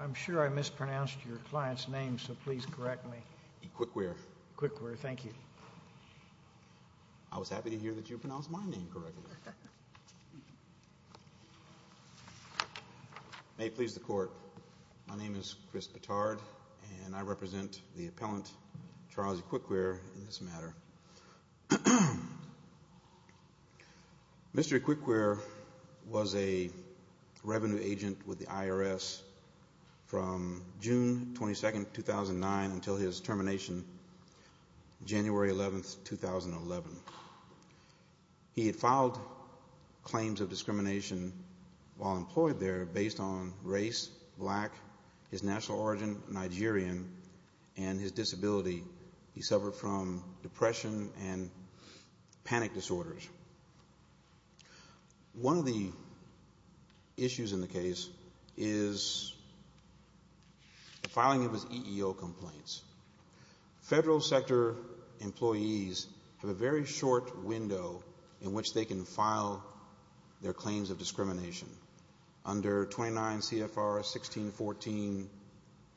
I'm sure I mispronounced your client's name, so please correct me. I was happy to hear that you pronounced my name correctly. May it please the Court, my name is Chris Petard and I represent the appellant Charles Ikekwere in this matter. Mr. Ikekwere was a revenue agent with the IRS from June 22, 2009 until his termination January 11, 2011. He had filed claims of discrimination while employed there based on race, black, his national origin, Nigerian, and his disability. He suffered from depression and panic disorders. One of the issues in the case is the filing of his EEO complaints. Federal sector employees have a very short window in which they can file their claims of discrimination. Under 29 CFR 1614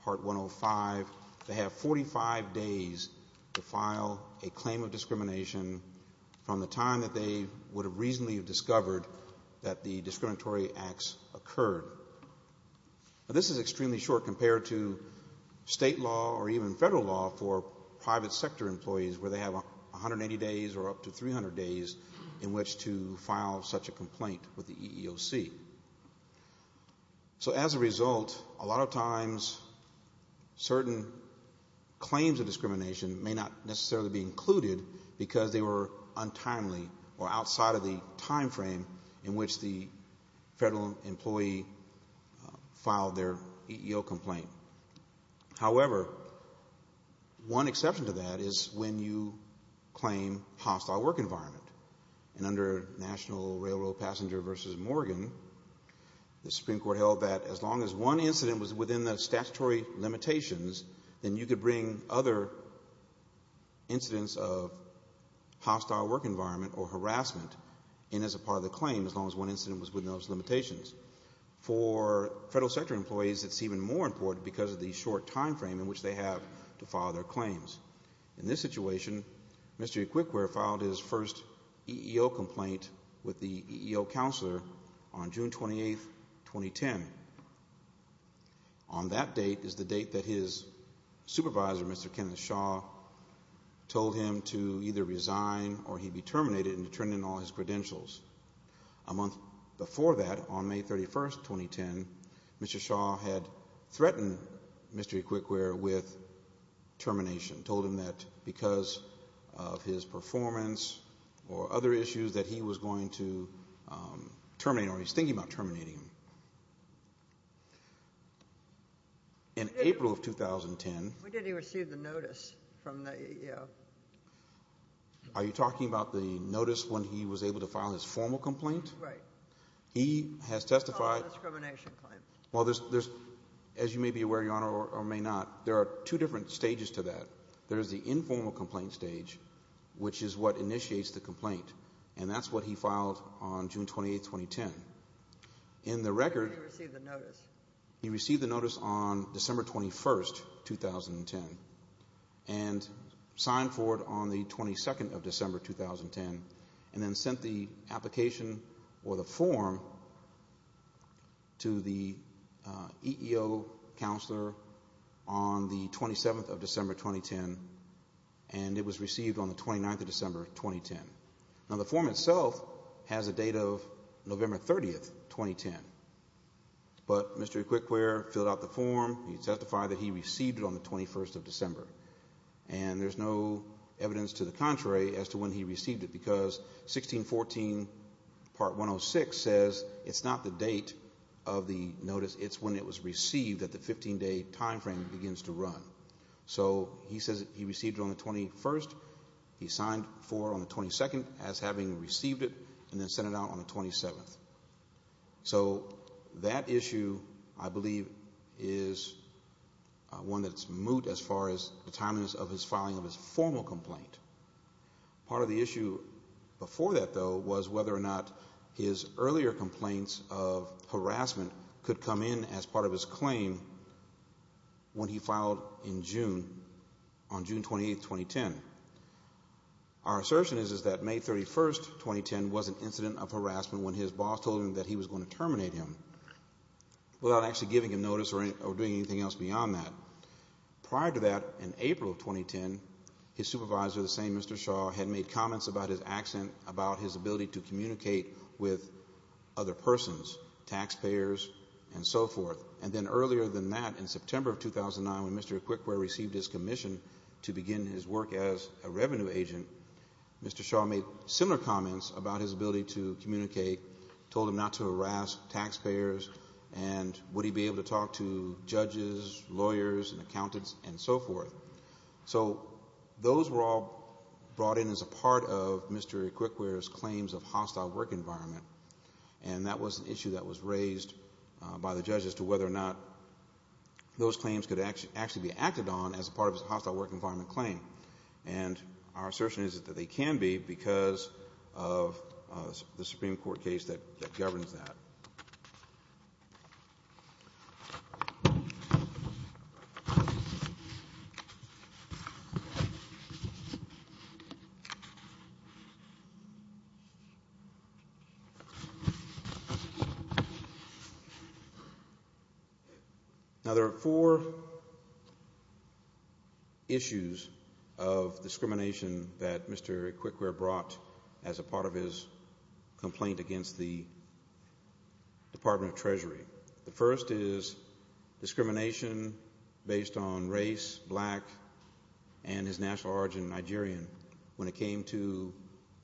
part 105, they have 45 days to file a claim of discrimination from the time that they would have reasonably discovered that the discriminatory acts occurred. This is extremely short compared to state law or even federal law for private sector employees where they have 180 days or up to 300 days in which to file such a complaint with the EEOC. So as a result, a lot of times certain claims of discrimination may not necessarily be included because they were untimely or outside of the time frame in which the federal employee filed their EEO complaint. However, one exception to that is when you claim hostile work environment. And under National Railroad Passenger v. Morgan, the Supreme Court held that as long as one incident was within the statutory limitations, then you could bring other incidents of hostile work environment or harassment in as a part of the claim as long as one incident was within those limitations. For federal sector employees, it's even more important because of the short time frame in which they have to file their claims. In this situation, Mr. Equiquere filed his first EEO complaint with the EEO counselor on June 28, 2010. On that date is the date that his supervisor, Mr. Kenneth Shaw, told him to either resign or he'd be terminated and turn in all his credentials. A month before that, on May 31, 2010, Mr. Shaw had threatened Mr. Equiquere with termination, told him that because of his performance or other issues that he was going to terminate or he was thinking about terminating him. In April of 2010, are you talking about the notice when he was able to file his formal complaint? He has testified. Well, as you may be aware, Your Honor, or may not, there are two different stages to that. There is the informal complaint stage, which is what initiates the complaint, and that's what he filed on June 28, 2010. Where did he receive the notice? He received the notice on December 21, 2010, and signed for it on the 22nd of December, 2010, and then sent the application or the form to the EEO counselor on the 27th of December, 2010, and it was received on the 29th of December, 2010. Now, the form itself has a date of November 30, 2010, but Mr. Equiquere filled out the form. He testified that he received it on the 21st of December, and there's no evidence to the contrary as to when he received it because 1614 Part 106 says it's not the date of the notice. It's when it was received at the 15-day time frame it begins to run. So he says he received it on the 21st, he signed for it on the 22nd as having received it, and then sent it out on the 27th. So that issue, I believe, is one that's moot as far as the timeliness of his filing of his formal complaint. Part of the issue before that, though, was whether or not his earlier complaints of harassment could come in as part of his claim when he filed in June, on June 28, 2010. Our assertion is that May 31, 2010, was an incident of harassment when his boss told him that he was going to terminate him without actually giving him notice or doing anything else beyond that. Prior to that, in April of 2010, his supervisor, the same Mr. Shaw, had made comments about his accent, about his ability to communicate with other persons, taxpayers, and so forth. And then earlier than that, in September of 2009, when Mr. Equiquere received his commission to begin his work as a revenue agent, Mr. Shaw made similar comments about his ability to communicate, told him not to harass taxpayers, and would he be able to talk to judges, lawyers, and accountants, and so forth. So those were all brought in as a part of Mr. Equiquere's claims of hostile work environment. And that was an issue that was raised by the judge as to whether or not those claims could actually be acted on as part of his hostile work environment claim. And our assertion is that they can be because of the Supreme Court case that governs that. Now there are four issues of discrimination that Mr. Equiquere brought as a part of his complaint against the Department of Treasury. The first is discrimination based on race, black, and his national origin, Nigerian, when it came to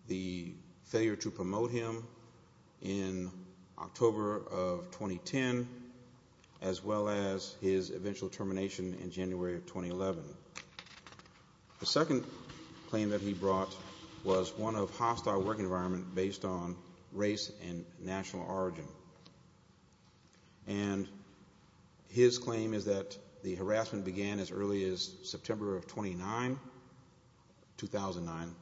the failure to promote him in October of 2010, as well as his eventual termination in January of 2011. The second claim that he brought was one of hostile work environment based on race and national origin. And his claim is that the harassment began as early as September of 2009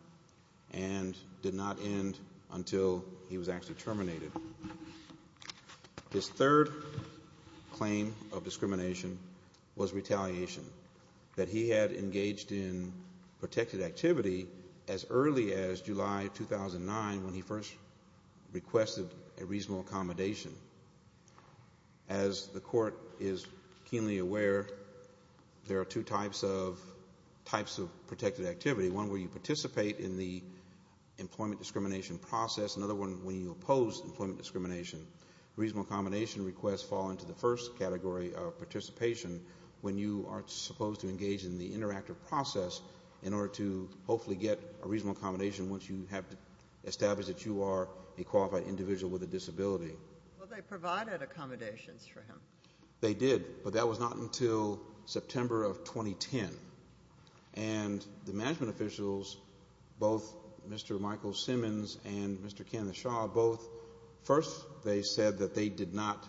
and did not end until he was actually terminated. His third claim of discrimination was retaliation, that he had engaged in protected activity as early as July 2009 when he first requested a reasonable accommodation. As the court is keenly aware, there are two types of protected activity, one where you participate in the employment discrimination process, another one when you oppose employment discrimination. Reasonable accommodation requests fall into the first category of participation when you are supposed to engage in the interactive process in order to hopefully get a reasonable accommodation once you have established that you are a qualified individual with a disability. Well, they provided accommodations for him. They did, but that was not until September of 2010. And the management officials, both Mr. Michael Simmons and Mr. Kenneth Shaw, both, first they said that they did not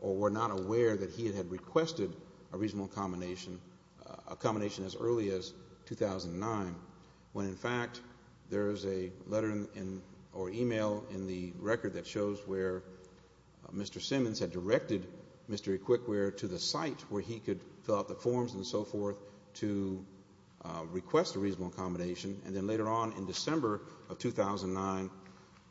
or were not aware that he had requested a reasonable accommodation as early as 2009, when in fact there is a letter or email in the record that shows where Mr. Simmons had directed Mr. Equiquere to the site where he could fill out the forms and so forth to request a reasonable accommodation. And then later on in December of 2009,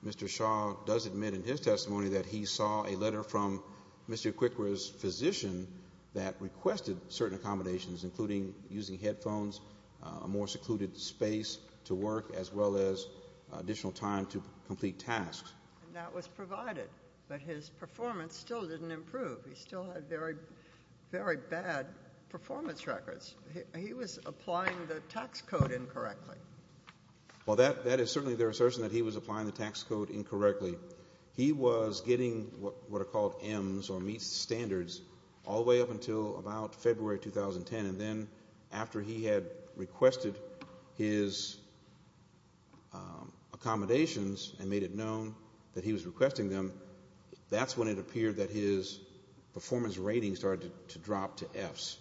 Mr. Shaw does admit in his testimony that he saw a letter from Mr. Equiquere's physician that requested certain accommodations, including using headphones, a more secluded space to work, as well as additional time to complete tasks. And that was provided, but his performance still didn't improve. He still had very, very bad performance records. He was applying the tax code incorrectly. Well, that is certainly their assertion that he was applying the tax code incorrectly. He was getting what are called Ms, or meets standards, all the way up until about February 2010. And then after he had requested his accommodations and made it known that he was requesting them, that's when it appeared that his performance rating started to drop to Fs.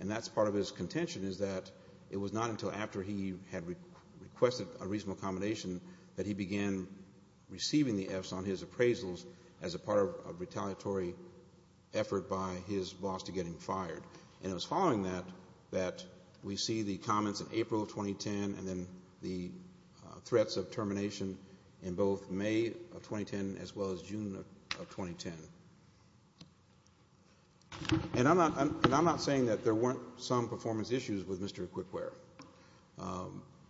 And that's part of his contention is that it was not until after he had requested a reasonable accommodation that he began receiving the Fs on his appraisals as a part of a retaliatory effort by his boss to get him fired. And it was following that that we see the comments in April of 2010 and then the threats of termination in both May of 2010 as well as June of 2010. And I'm not saying that there weren't some performance issues with Mr. Equiquere.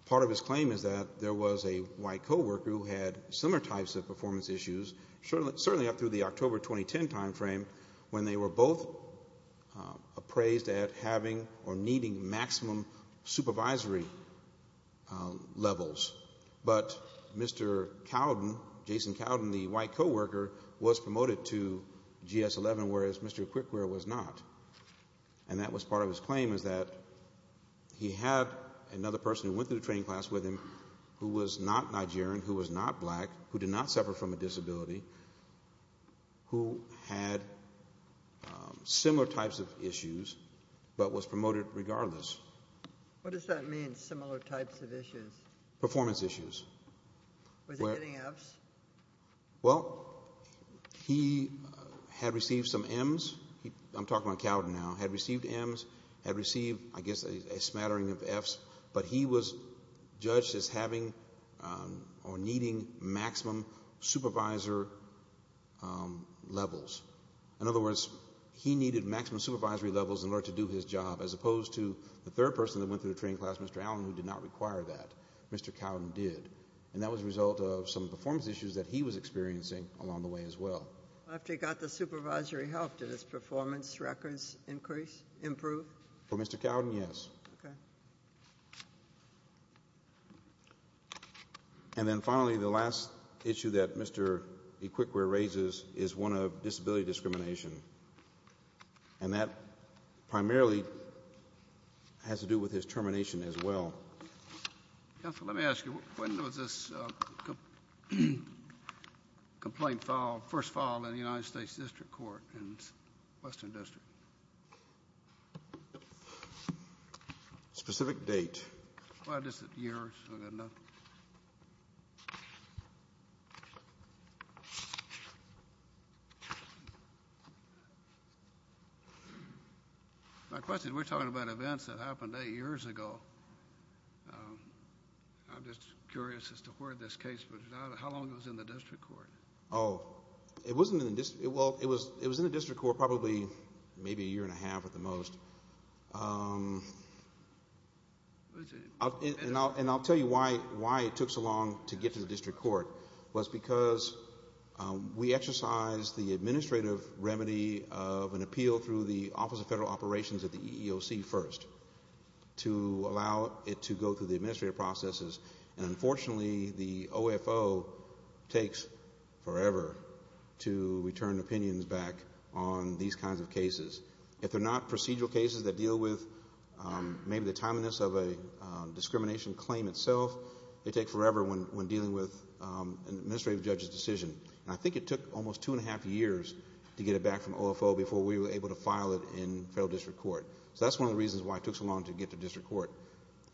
Part of his claim is that there was a white coworker who had similar types of performance issues, certainly up through the October 2010 timeframe, when they were both appraised at having or needing maximum supervisory levels. But Mr. Cowden, Jason Cowden, the white coworker, was promoted to GS-11, whereas Mr. Equiquere was not. And that was part of his claim is that he had another person who went through the training class with him who was not Nigerian, who was not black, who did not suffer from a disability, who had similar types of issues but was promoted regardless. What does that mean, similar types of issues? Performance issues. Was he getting Fs? Well, he had received some Ms. I'm talking about Cowden now. Had received Ms. Had received, I guess, a smattering of Fs. But he was judged as having or needing maximum supervisor levels. In other words, he needed maximum supervisory levels in order to do his job as opposed to the third person that went through the training class, Mr. Allen, who did not require that. Mr. Cowden did. And that was a result of some performance issues that he was experiencing along the way as well. After he got the supervisory help, did his performance records increase, improve? For Mr. Cowden, yes. Okay. And then finally, the last issue that Mr. Equiquere raises is one of disability discrimination. And that primarily has to do with his termination as well. Counselor, let me ask you, when was this complaint filed, first filed in the United States District Court in the Western District? Specific date. Well, just the years. I've got nothing. My question is, we're talking about events that happened eight years ago. I'm just curious as to where this case was filed. How long was it in the District Court? Oh, it was in the District Court probably maybe a year and a half at the most. And I'll tell you why it took so long to get to the District Court. It was because we exercised the administrative remedy of an appeal through the Office of Federal Operations at the EEOC first, to allow it to go through the administrative processes. And unfortunately, the OFO takes forever to return opinions back on these kinds of cases. If they're not procedural cases that deal with maybe the timeliness of a discrimination claim itself, they take forever when dealing with an administrative judge's decision. And I think it took almost two and a half years to get it back from OFO before we were able to file it in Federal District Court. So that's one of the reasons why it took so long to get to District Court.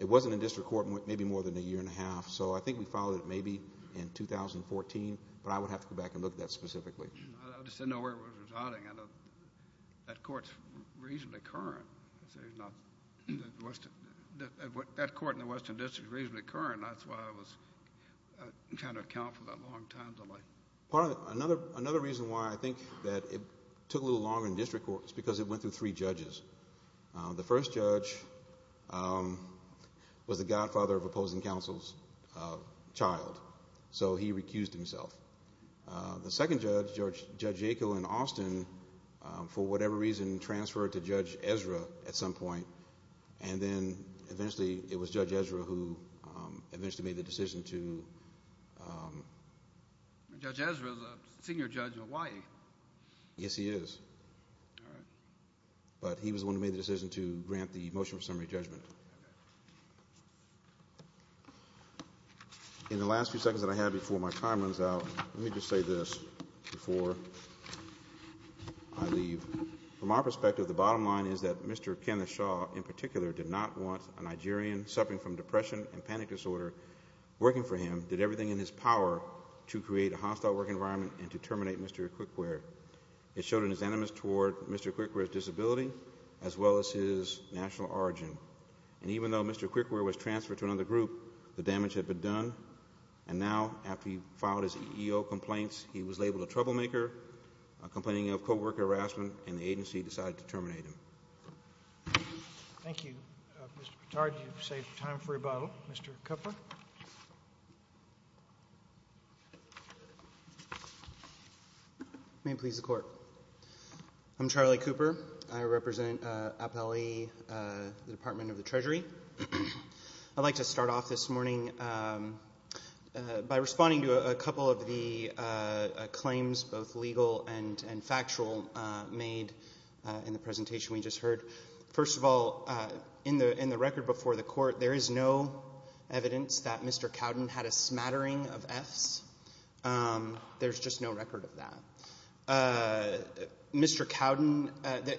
It wasn't in District Court maybe more than a year and a half. So I think we filed it maybe in 2014, but I would have to go back and look at that specifically. I just didn't know where it was residing. That court is reasonably current. That court in the Western District is reasonably current. That's why I was trying to account for that long time delay. Another reason why I think that it took a little longer in District Court is because it went through three judges. The first judge was the godfather of opposing counsel's child, so he recused himself. The second judge, Judge Yackel in Austin, for whatever reason, transferred to Judge Ezra at some point, and then eventually it was Judge Ezra who eventually made the decision to... Judge Ezra is a senior judge in Hawaii. Yes, he is. But he was the one who made the decision to grant the motion for summary judgment. In the last few seconds that I have before my time runs out, let me just say this before I leave. From our perspective, the bottom line is that Mr. Kenneth Shaw in particular did not want a Nigerian suffering from depression and panic disorder working for him, did everything in his power to create a hostile work environment and to terminate Mr. Quickware. It showed in his animus toward Mr. Quickware's disability as well as his national origin. And even though Mr. Quickware was transferred to another group, the damage had been done. And now, after he filed his EEO complaints, he was labeled a troublemaker, complaining of co-worker harassment, and the agency decided to terminate him. Thank you. Mr. Petard, you've saved time for rebuttal. Mr. Kupfer? May it please the Court. I'm Charlie Cooper. I represent Appellee, the Department of the Treasury. I'd like to start off this morning by responding to a couple of the claims, both legal and factual, made in the presentation we just heard. First of all, in the record before the Court, there is no evidence that Mr. Cowden had a smattering of Fs. There's just no record of that. Mr. Cowden,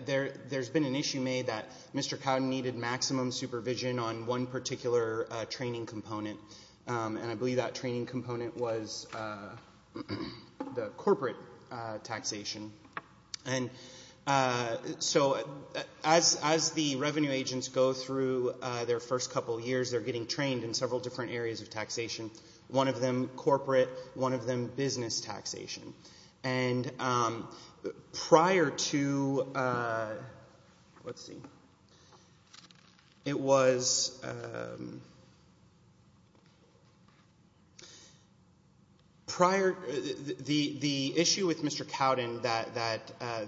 there's been an issue made that Mr. Cowden needed maximum supervision on one particular training component, and I believe that training component was the corporate taxation. And so as the revenue agents go through their first couple of years, they're getting trained in several different areas of taxation, one of them corporate, one of them business taxation. And prior to the issue with Mr. Cowden that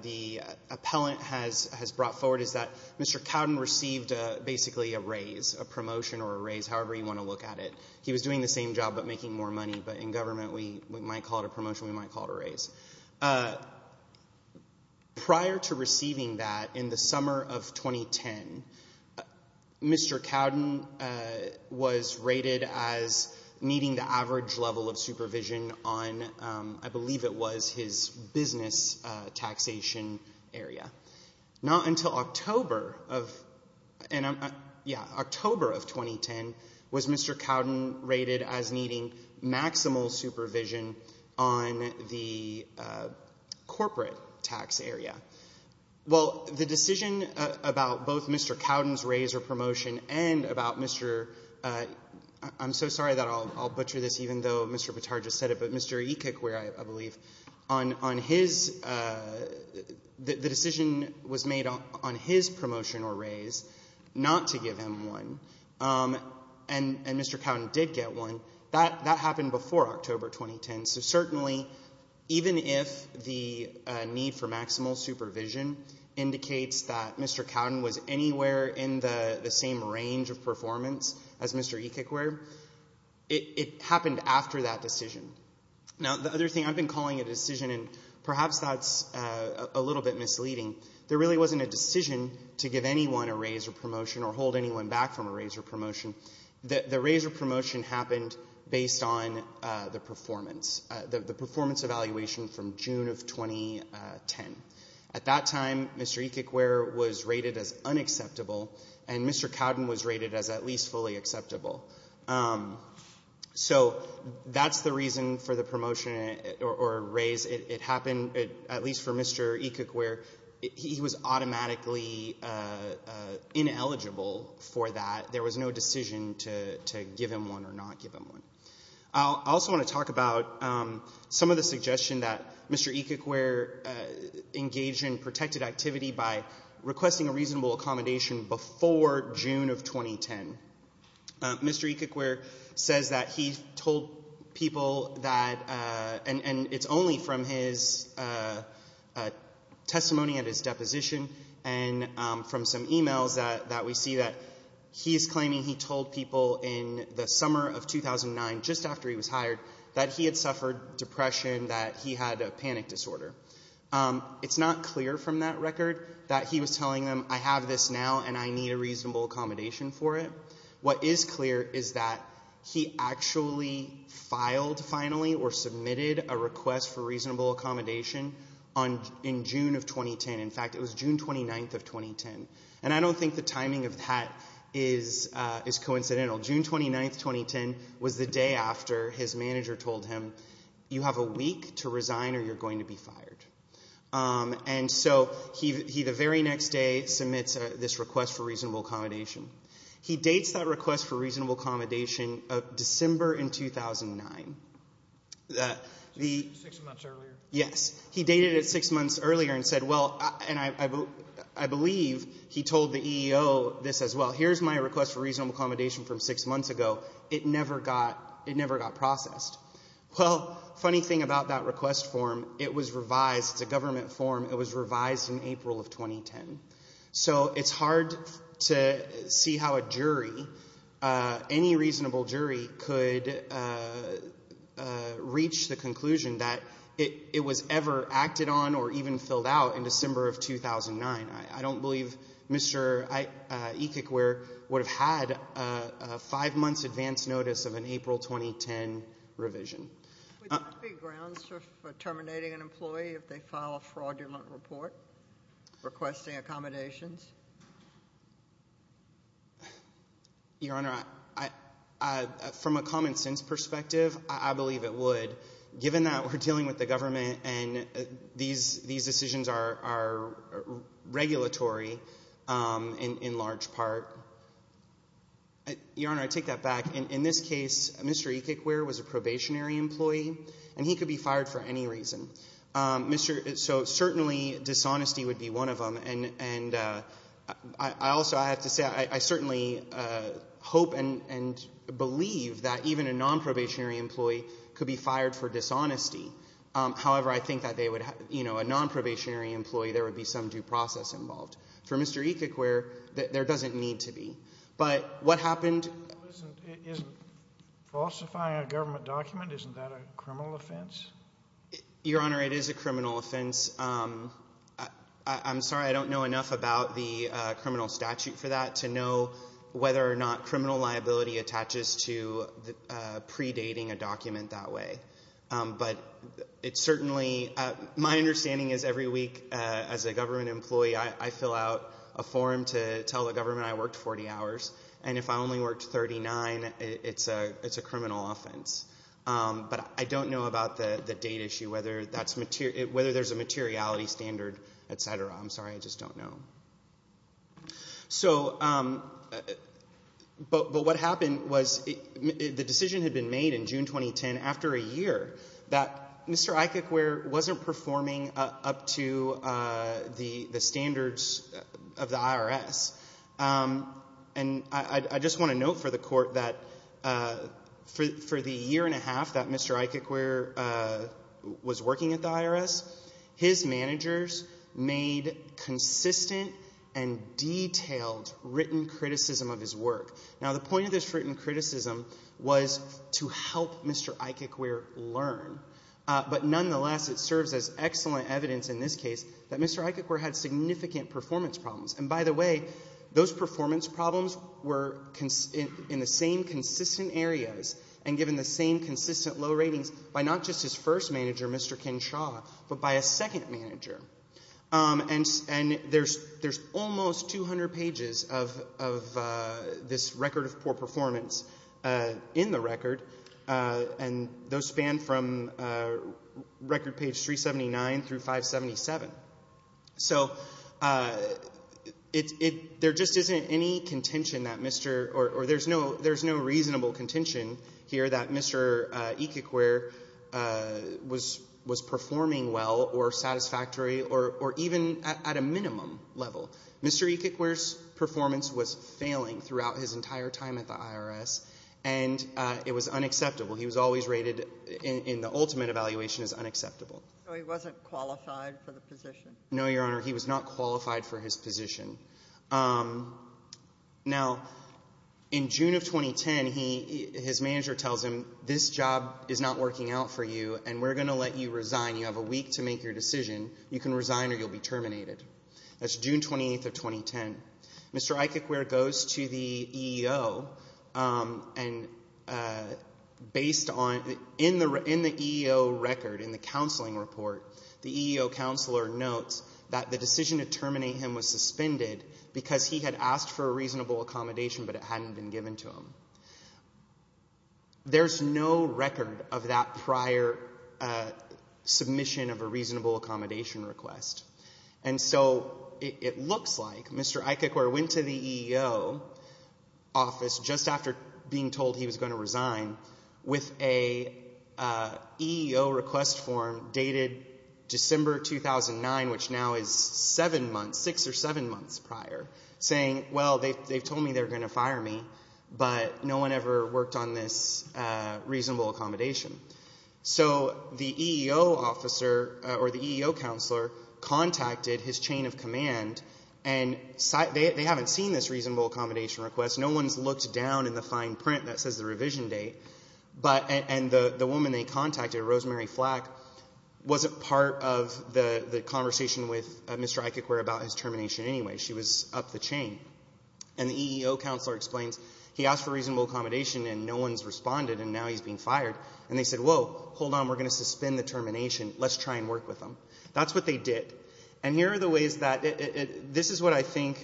the appellant has brought forward is that Mr. Cowden received basically a raise, a promotion or a raise, however you want to look at it. He was doing the same job but making more money, but in government we might call it a promotion, we might call it a raise. Prior to receiving that in the summer of 2010, Mr. Cowden was rated as needing the average level of supervision on, I believe it was his business taxation area. Not until October of 2010 was Mr. Cowden rated as needing maximal supervision on the corporate tax area. Well, the decision about both Mr. Cowden's raise or promotion and about Mr. — I'm so sorry that I'll butcher this, even though Mr. Bitar just said it, but Mr. Ekekwere, I believe, on his — the decision was made on his promotion or raise not to give him one, and Mr. Cowden did get one. That happened before October 2010. So certainly even if the need for maximal supervision indicates that Mr. Cowden was anywhere in the same range of performance as Mr. Ekekwere, it happened after that decision. Now the other thing, I've been calling it a decision and perhaps that's a little bit misleading. There really wasn't a decision to give anyone a raise or promotion or hold anyone back from a raise or promotion. The raise or promotion happened based on the performance, the performance evaluation from June of 2010. At that time, Mr. Ekekwere was rated as unacceptable and Mr. Cowden was rated as at least fully acceptable. So that's the reason for the promotion or raise. It happened at least for Mr. Ekekwere. He was automatically ineligible for that. There was no decision to give him one or not give him one. I also want to talk about some of the suggestion that Mr. Ekekwere engaged in protected activity by requesting a reasonable accommodation before June of 2010. Mr. Ekekwere says that he told people that, and it's only from his testimony at his deposition and from some e-mails that we see that he is claiming he told people in the summer of 2009, just after he was hired, that he had suffered depression, that he had a panic disorder. It's not clear from that record that he was telling them, I have this now and I need a reasonable accommodation for it. What is clear is that he actually filed finally or submitted a request for reasonable accommodation in June of 2010. In fact, it was June 29th of 2010. And I don't think the timing of that is coincidental. June 29th, 2010 was the day after his manager told him, you have a week to resign or you're going to be fired. And so he, the very next day, submits this request for reasonable accommodation. He dates that request for reasonable accommodation of December in 2009. Six months earlier? Yes. He dated it six months earlier and said, well, and I believe he told the EEO this as well. Here's my request for reasonable accommodation from six months ago. It never got processed. Well, funny thing about that request form, it was revised. It's a government form. It was revised in April of 2010. So it's hard to see how a jury, any reasonable jury, could reach the conclusion that it was ever acted on or even filled out in December of 2009. I don't believe Mr. Ekekwer would have had a five-month advance notice of an April 2010 revision. Would there be grounds for terminating an employee if they file a fraudulent report requesting accommodations? Your Honor, from a common sense perspective, I believe it would. But given that we're dealing with the government and these decisions are regulatory in large part, Your Honor, I take that back. In this case, Mr. Ekekwer was a probationary employee, and he could be fired for any reason. So certainly dishonesty would be one of them. I also have to say I certainly hope and believe that even a nonprobationary employee could be fired for dishonesty. However, I think that a nonprobationary employee, there would be some due process involved. For Mr. Ekekwer, there doesn't need to be. But what happened — Isn't falsifying a government document, isn't that a criminal offense? Your Honor, it is a criminal offense. I'm sorry, I don't know enough about the criminal statute for that to know whether or not criminal liability attaches to predating a document that way. But it certainly — my understanding is every week as a government employee, I fill out a form to tell the government I worked 40 hours. And if I only worked 39, it's a criminal offense. But I don't know about the date issue, whether there's a materiality standard, et cetera. I'm sorry, I just don't know. So — but what happened was the decision had been made in June 2010, after a year, that Mr. Ekekwer wasn't performing up to the standards of the IRS. And I just want to note for the Court that for the year and a half that Mr. Ekekwer was working at the IRS, his managers made consistent and detailed written criticism of his work. Now, the point of this written criticism was to help Mr. Ekekwer learn. But nonetheless, it serves as excellent evidence in this case that Mr. Ekekwer had significant performance problems. And by the way, those performance problems were in the same consistent areas and given the same consistent low ratings by not just his first manager, Mr. Ken Shaw, but by a second manager. And there's almost 200 pages of this record of poor performance in the record. And those span from record page 379 through 577. So there just isn't any contention that Mr. — or there's no reasonable contention here that Mr. Ekekwer was performing well or satisfactory or even at a minimum level. Mr. Ekekwer's performance was failing throughout his entire time at the IRS, and it was unacceptable. He was always rated in the ultimate evaluation as unacceptable. No, he wasn't qualified for the position. No, Your Honor. He was not qualified for his position. Now, in June of 2010, he — his manager tells him, this job is not working out for you, and we're going to let you resign. You have a week to make your decision. You can resign or you'll be terminated. That's June 28th of 2010. Mr. Ekekwer goes to the EEO, and based on — in the EEO record, in the counseling report, the EEO counselor notes that the decision to terminate him was suspended because he had asked for a reasonable accommodation, but it hadn't been given to him. There's no record of that prior submission of a reasonable accommodation request. And so it looks like Mr. Ekekwer went to the EEO office just after being told he was going to resign with a EEO request form dated December 2009, which now is seven months, six or seven months prior, saying, well, they've told me they're going to fire me, but no one ever worked on this reasonable accommodation. So the EEO officer or the EEO counselor contacted his chain of command, and they haven't seen this reasonable accommodation request. No one's looked down in the fine print that says the revision date. But — and the woman they contacted, Rosemary Flack, wasn't part of the conversation with Mr. Ekekwer about his termination anyway. She was up the chain. And the EEO counselor explains he asked for reasonable accommodation, and no one's responded, and now he's being fired. And they said, whoa, hold on, we're going to suspend the termination. Let's try and work with them. That's what they did. And here are the ways that — this is what I think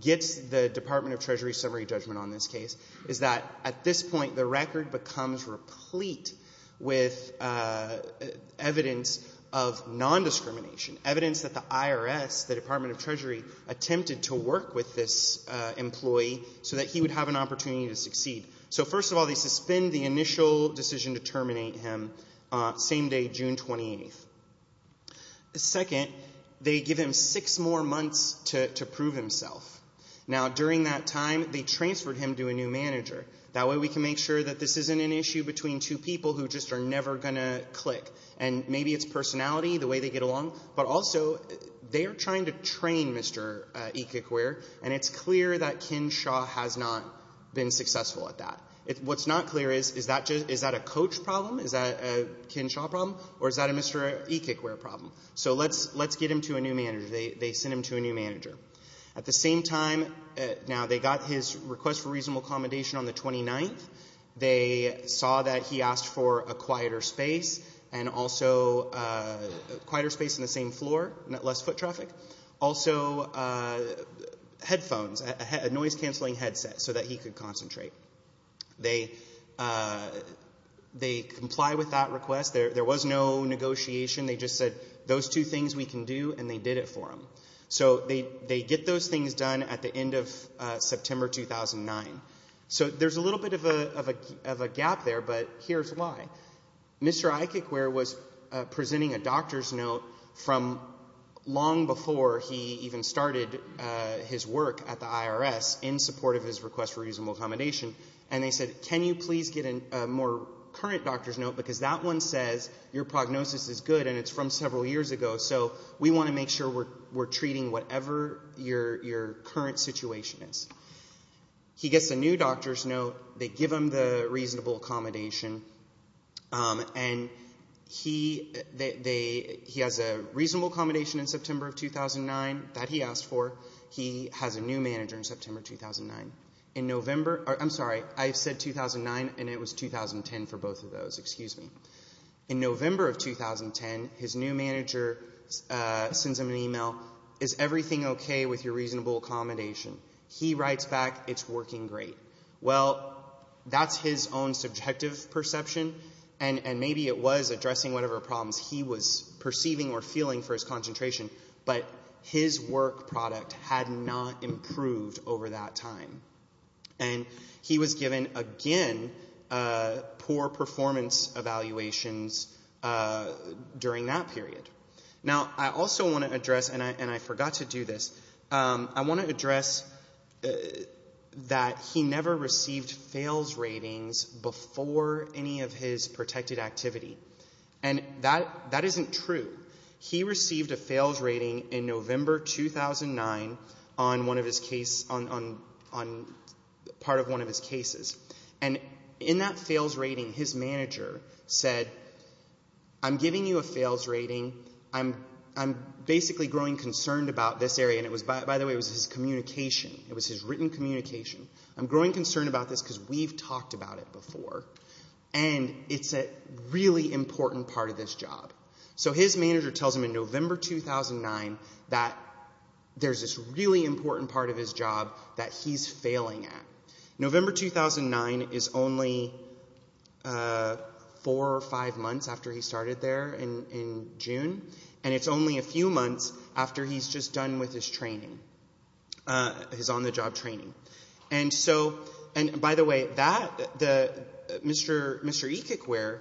gets the Department of Treasury summary judgment on this case, is that at this point the record becomes replete with evidence of nondiscrimination, evidence that the IRS, the Department of Treasury, attempted to work with this employee so that he would have an opportunity to succeed. So, first of all, they suspend the initial decision to terminate him, same day, June 28th. Second, they give him six more months to prove himself. Now, during that time, they transferred him to a new manager. That way we can make sure that this isn't an issue between two people who just are never going to click. And maybe it's personality, the way they get along, but also they are trying to train Mr. E-Kickwear, and it's clear that Ken Shaw has not been successful at that. What's not clear is, is that a coach problem? Is that a Ken Shaw problem? Or is that a Mr. E-Kickwear problem? So let's get him to a new manager. They send him to a new manager. At the same time, now, they got his request for reasonable accommodation on the 29th. They saw that he asked for a quieter space and also a quieter space on the same floor, less foot traffic. Also, headphones, a noise-canceling headset so that he could concentrate. They comply with that request. There was no negotiation. They just said, those two things we can do, and they did it for him. So they get those things done at the end of September 2009. So there's a little bit of a gap there, but here's why. Mr. E-Kickwear was presenting a doctor's note from long before he even started his work at the IRS in support of his request for reasonable accommodation, and they said, can you please get a more current doctor's note because that one says your prognosis is good and it's from several years ago, so we want to make sure we're treating whatever your current situation is. He gets a new doctor's note. They give him the reasonable accommodation, and he has a reasonable accommodation in September of 2009 that he asked for. He has a new manager in September 2009. In November, I'm sorry, I said 2009, and it was 2010 for both of those. Excuse me. In November of 2010, his new manager sends him an email. Is everything okay with your reasonable accommodation? He writes back, it's working great. Well, that's his own subjective perception, and maybe it was addressing whatever problems he was perceiving or feeling for his concentration, but his work product had not improved over that time, and he was given, again, poor performance evaluations during that period. Now, I also want to address, and I forgot to do this, I want to address that he never received fails ratings before any of his protected activity, and that isn't true. He received a fails rating in November 2009 on part of one of his cases, and in that fails rating, his manager said, I'm giving you a fails rating. I'm basically growing concerned about this area, and by the way, it was his communication. It was his written communication. I'm growing concerned about this because we've talked about it before, and it's a really important part of this job. So his manager tells him in November 2009 that there's this really important part of his job that he's failing at. November 2009 is only four or five months after he started there in June, and it's only a few months after he's just done with his training, his on-the-job training. And so, and by the way, that, Mr. Ekekwer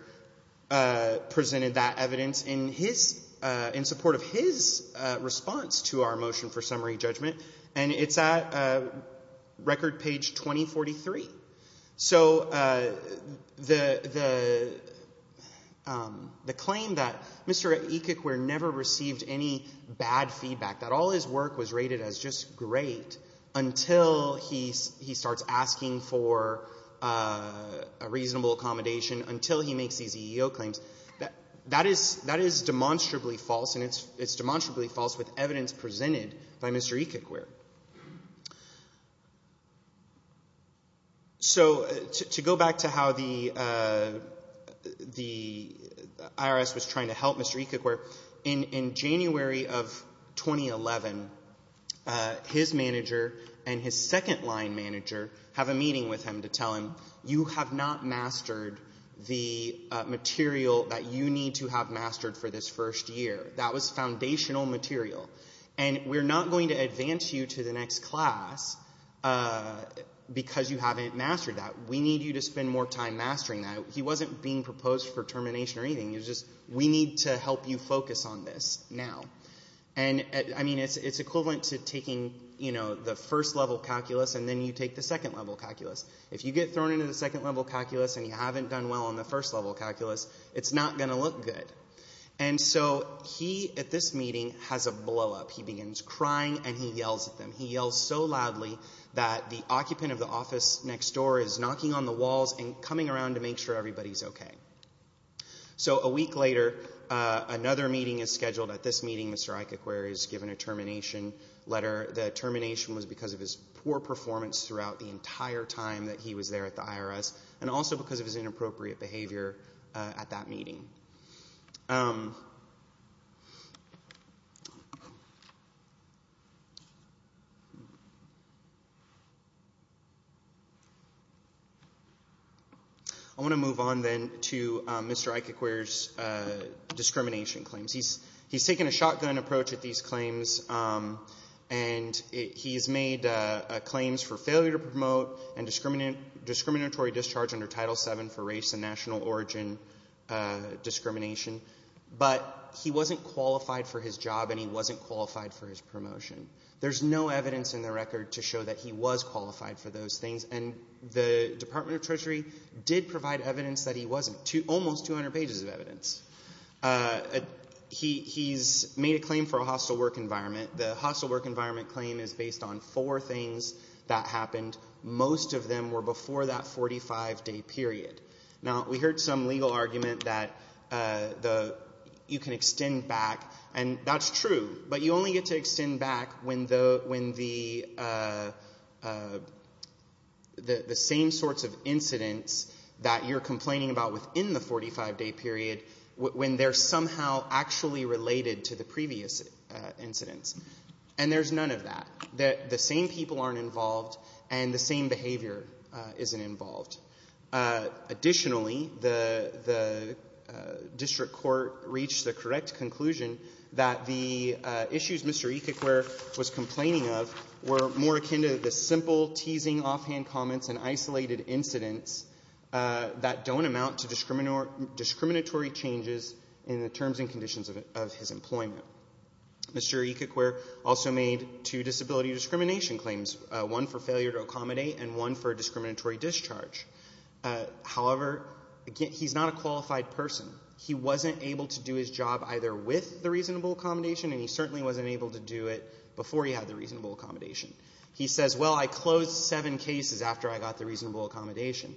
presented that evidence in support of his response to our motion for summary judgment, and it's at record page 2043. So the claim that Mr. Ekekwer never received any bad feedback, that all his work was rated as just great, until he starts asking for a reasonable accommodation, until he makes these EEO claims, that is demonstrably false, and it's demonstrably false with evidence presented by Mr. Ekekwer. So to go back to how the IRS was trying to help Mr. Ekekwer, in January of 2011, his manager and his second-line manager have a meeting with him to tell him, you have not mastered the material that you need to have mastered for this first year. That was foundational material. And we're not going to advance you to the next class because you haven't mastered that. We need you to spend more time mastering that. He wasn't being proposed for termination or anything. It was just, we need to help you focus on this now. And, I mean, it's equivalent to taking, you know, the first-level calculus, and then you take the second-level calculus. If you get thrown into the second-level calculus and you haven't done well on the first-level calculus, it's not going to look good. And so he, at this meeting, has a blow-up. He begins crying and he yells at them. He yells so loudly that the occupant of the office next door is knocking on the walls and coming around to make sure everybody's okay. So a week later, another meeting is scheduled. At this meeting, Mr. Ekekwer is given a termination letter. The termination was because of his poor performance throughout the entire time that he was there at the IRS and also because of his inappropriate behavior at that meeting. I want to move on then to Mr. Ekekwer's discrimination claims. He's taken a shotgun approach at these claims, and he's made claims for failure to promote and discriminatory discharge under Title VII for race and national origin discrimination. But he wasn't qualified for his job and he wasn't qualified for his promotion. There's no evidence in the record to show that he was qualified for those things, and the Department of Treasury did provide evidence that he wasn't, almost 200 pages of evidence. He's made a claim for a hostile work environment. The hostile work environment claim is based on four things that happened. Most of them were before that 45-day period. Now, we heard some legal argument that you can extend back, and that's true, but you only get to extend back when the same sorts of incidents that you're complaining about within the 45-day period, when they're somehow actually related to the previous incidents. And there's none of that. The same people aren't involved and the same behavior isn't involved. Additionally, the district court reached the correct conclusion that the issues Mr. Ecoquere was complaining of were more akin to the simple, teasing, offhand comments and isolated incidents that don't amount to discriminatory changes in the terms and conditions of his employment. Mr. Ecoquere also made two disability discrimination claims, one for failure to accommodate and one for discriminatory discharge. However, he's not a qualified person. He wasn't able to do his job either with the reasonable accommodation, and he certainly wasn't able to do it before he had the reasonable accommodation. He says, well, I closed seven cases after I got the reasonable accommodation.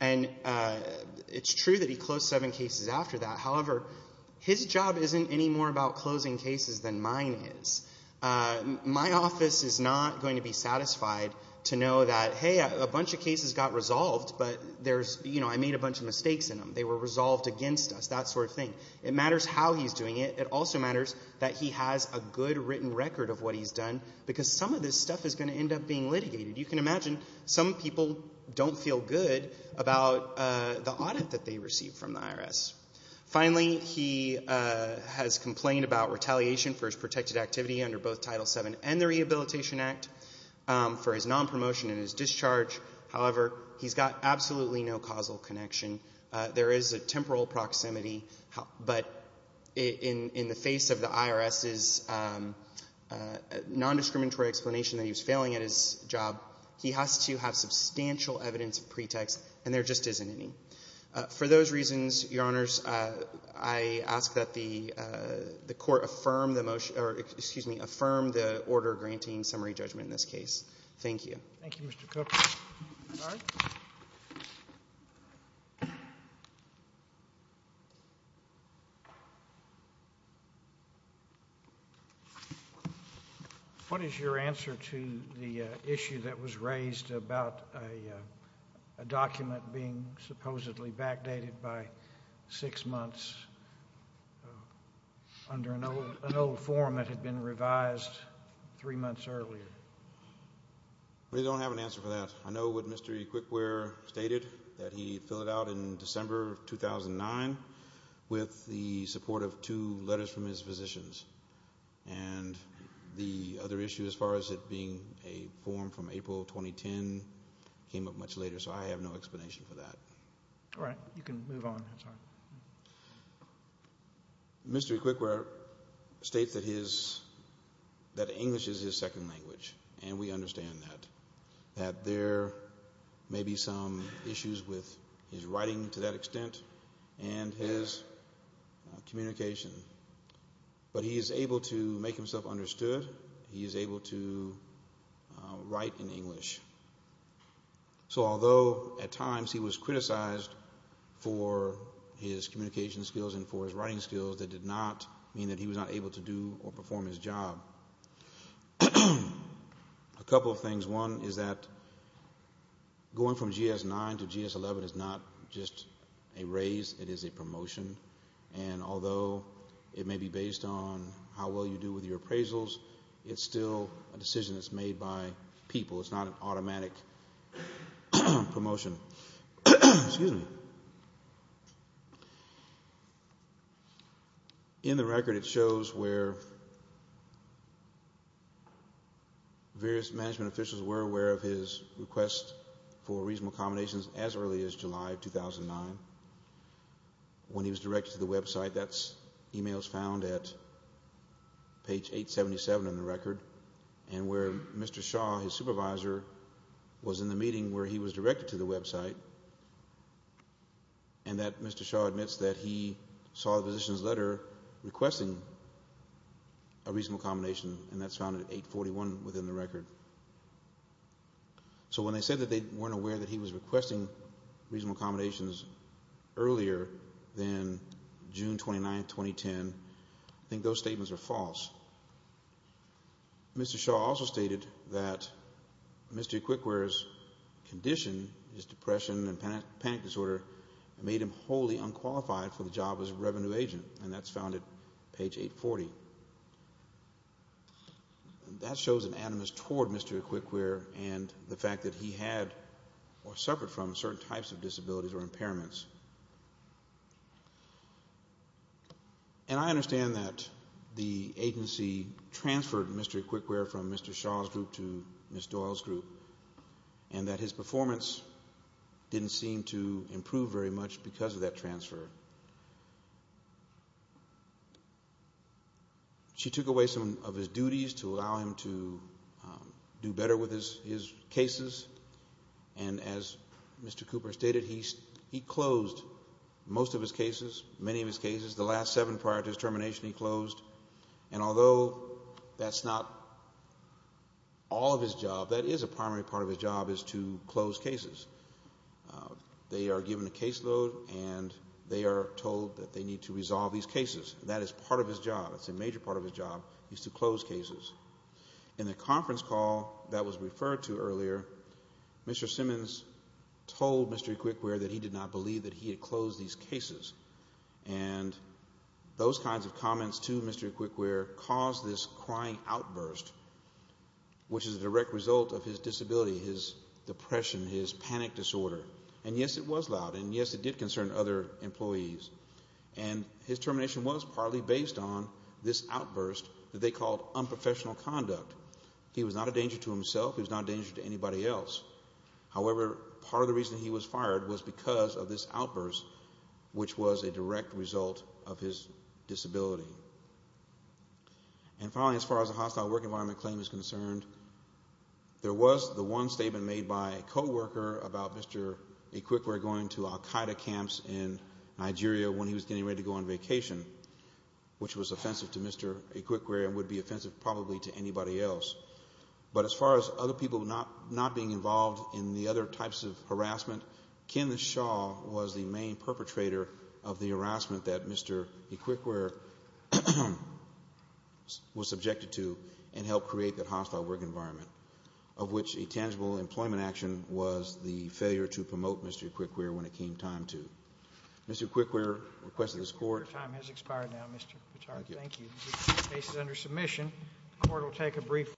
And it's true that he closed seven cases after that. However, his job isn't any more about closing cases than mine is. My office is not going to be satisfied to know that, hey, a bunch of cases got resolved, but I made a bunch of mistakes in them. They were resolved against us, that sort of thing. It matters how he's doing it. It also matters that he has a good written record of what he's done because some of this stuff is going to end up being litigated. You can imagine some people don't feel good about the audit that they received from the IRS. Finally, he has complained about retaliation for his protected activity under both Title VII and the Rehabilitation Act for his nonpromotion and his discharge. However, he's got absolutely no causal connection. There is a temporal proximity, but in the face of the IRS's nondiscriminatory explanation that he was failing at his job, he has to have substantial evidence of pretext, and there just isn't any. For those reasons, Your Honors, I ask that the Court affirm the motion or, excuse me, affirm the order granting summary judgment in this case. Thank you. Thank you, Mr. Cook. All right. What is your answer to the issue that was raised about a document being supposedly backdated by six months under an old form that had been revised three months earlier? We don't have an answer for that. I know what Mr. Quickware stated, that he filled it out in December of 2009 with the support of two letters from his physicians, and the other issue as far as it being a form from April 2010 came up much later, so I have no explanation for that. All right. You can move on. Mr. Quickware states that English is his second language, and we understand that, that there may be some issues with his writing to that extent and his communication, but he is able to make himself understood. He is able to write in English. So although at times he was criticized for his communication skills and for his writing skills, that did not mean that he was not able to do or perform his job. A couple of things. One is that going from GS-9 to GS-11 is not just a raise, it is a promotion, and although it may be based on how well you do with your appraisals, it's still a decision that's made by people. It's not an automatic promotion. In the record it shows where various management officials were aware of his request for reasonable accommodations as early as July of 2009. When he was directed to the website, that email is found at page 877 in the record, and where Mr. Shaw, his supervisor, was in the meeting where he was directed to the website, and that Mr. Shaw admits that he saw the physician's letter requesting a reasonable accommodation, and that's found at 841 within the record. So when they said that they weren't aware that he was requesting reasonable accommodations earlier than June 29, 2010, I think those statements are false. Mr. Shaw also stated that Mr. Equiquere's condition, his depression and panic disorder, made him wholly unqualified for the job as a revenue agent, and that's found at page 840. That shows an animus toward Mr. Equiquere and the fact that he had or suffered from certain types of disabilities or impairments. And I understand that the agency transferred Mr. Equiquere from Mr. Shaw's group to Ms. Doyle's group, and that his performance didn't seem to improve very much because of that transfer. She took away some of his duties to allow him to do better with his cases, and as Mr. Cooper stated, he closed most of his cases, many of his cases. The last seven prior to his termination he closed, and although that's not all of his job, that is a primary part of his job is to close cases. They are given a caseload, and they are told that they need to resolve these cases. That is part of his job. It's a major part of his job is to close cases. In the conference call that was referred to earlier, Mr. Simmons told Mr. Equiquere that he did not believe that he had closed these cases, and those kinds of comments to Mr. Equiquere caused this crying outburst, which is a direct result of his disability, his depression, his panic disorder. And, yes, it was loud, and, yes, it did concern other employees. And his termination was partly based on this outburst that they called unprofessional conduct. He was not a danger to himself. He was not a danger to anybody else. However, part of the reason he was fired was because of this outburst, which was a direct result of his disability. And, finally, as far as the hostile work environment claim is concerned, there was the one statement made by a coworker about Mr. Equiquere going to Al-Qaeda camps in Nigeria when he was getting ready to go on vacation, which was offensive to Mr. Equiquere and would be offensive probably to anybody else. But as far as other people not being involved in the other types of harassment, Ken Shaw was the main perpetrator of the harassment that Mr. Equiquere was subjected to and helped create that hostile work environment, of which a tangible employment action was the failure to promote Mr. Equiquere when it came time to. Mr. Equiquere requested this Court. Your time has expired now, Mr. Petard. Thank you. The Court will take a brief vote.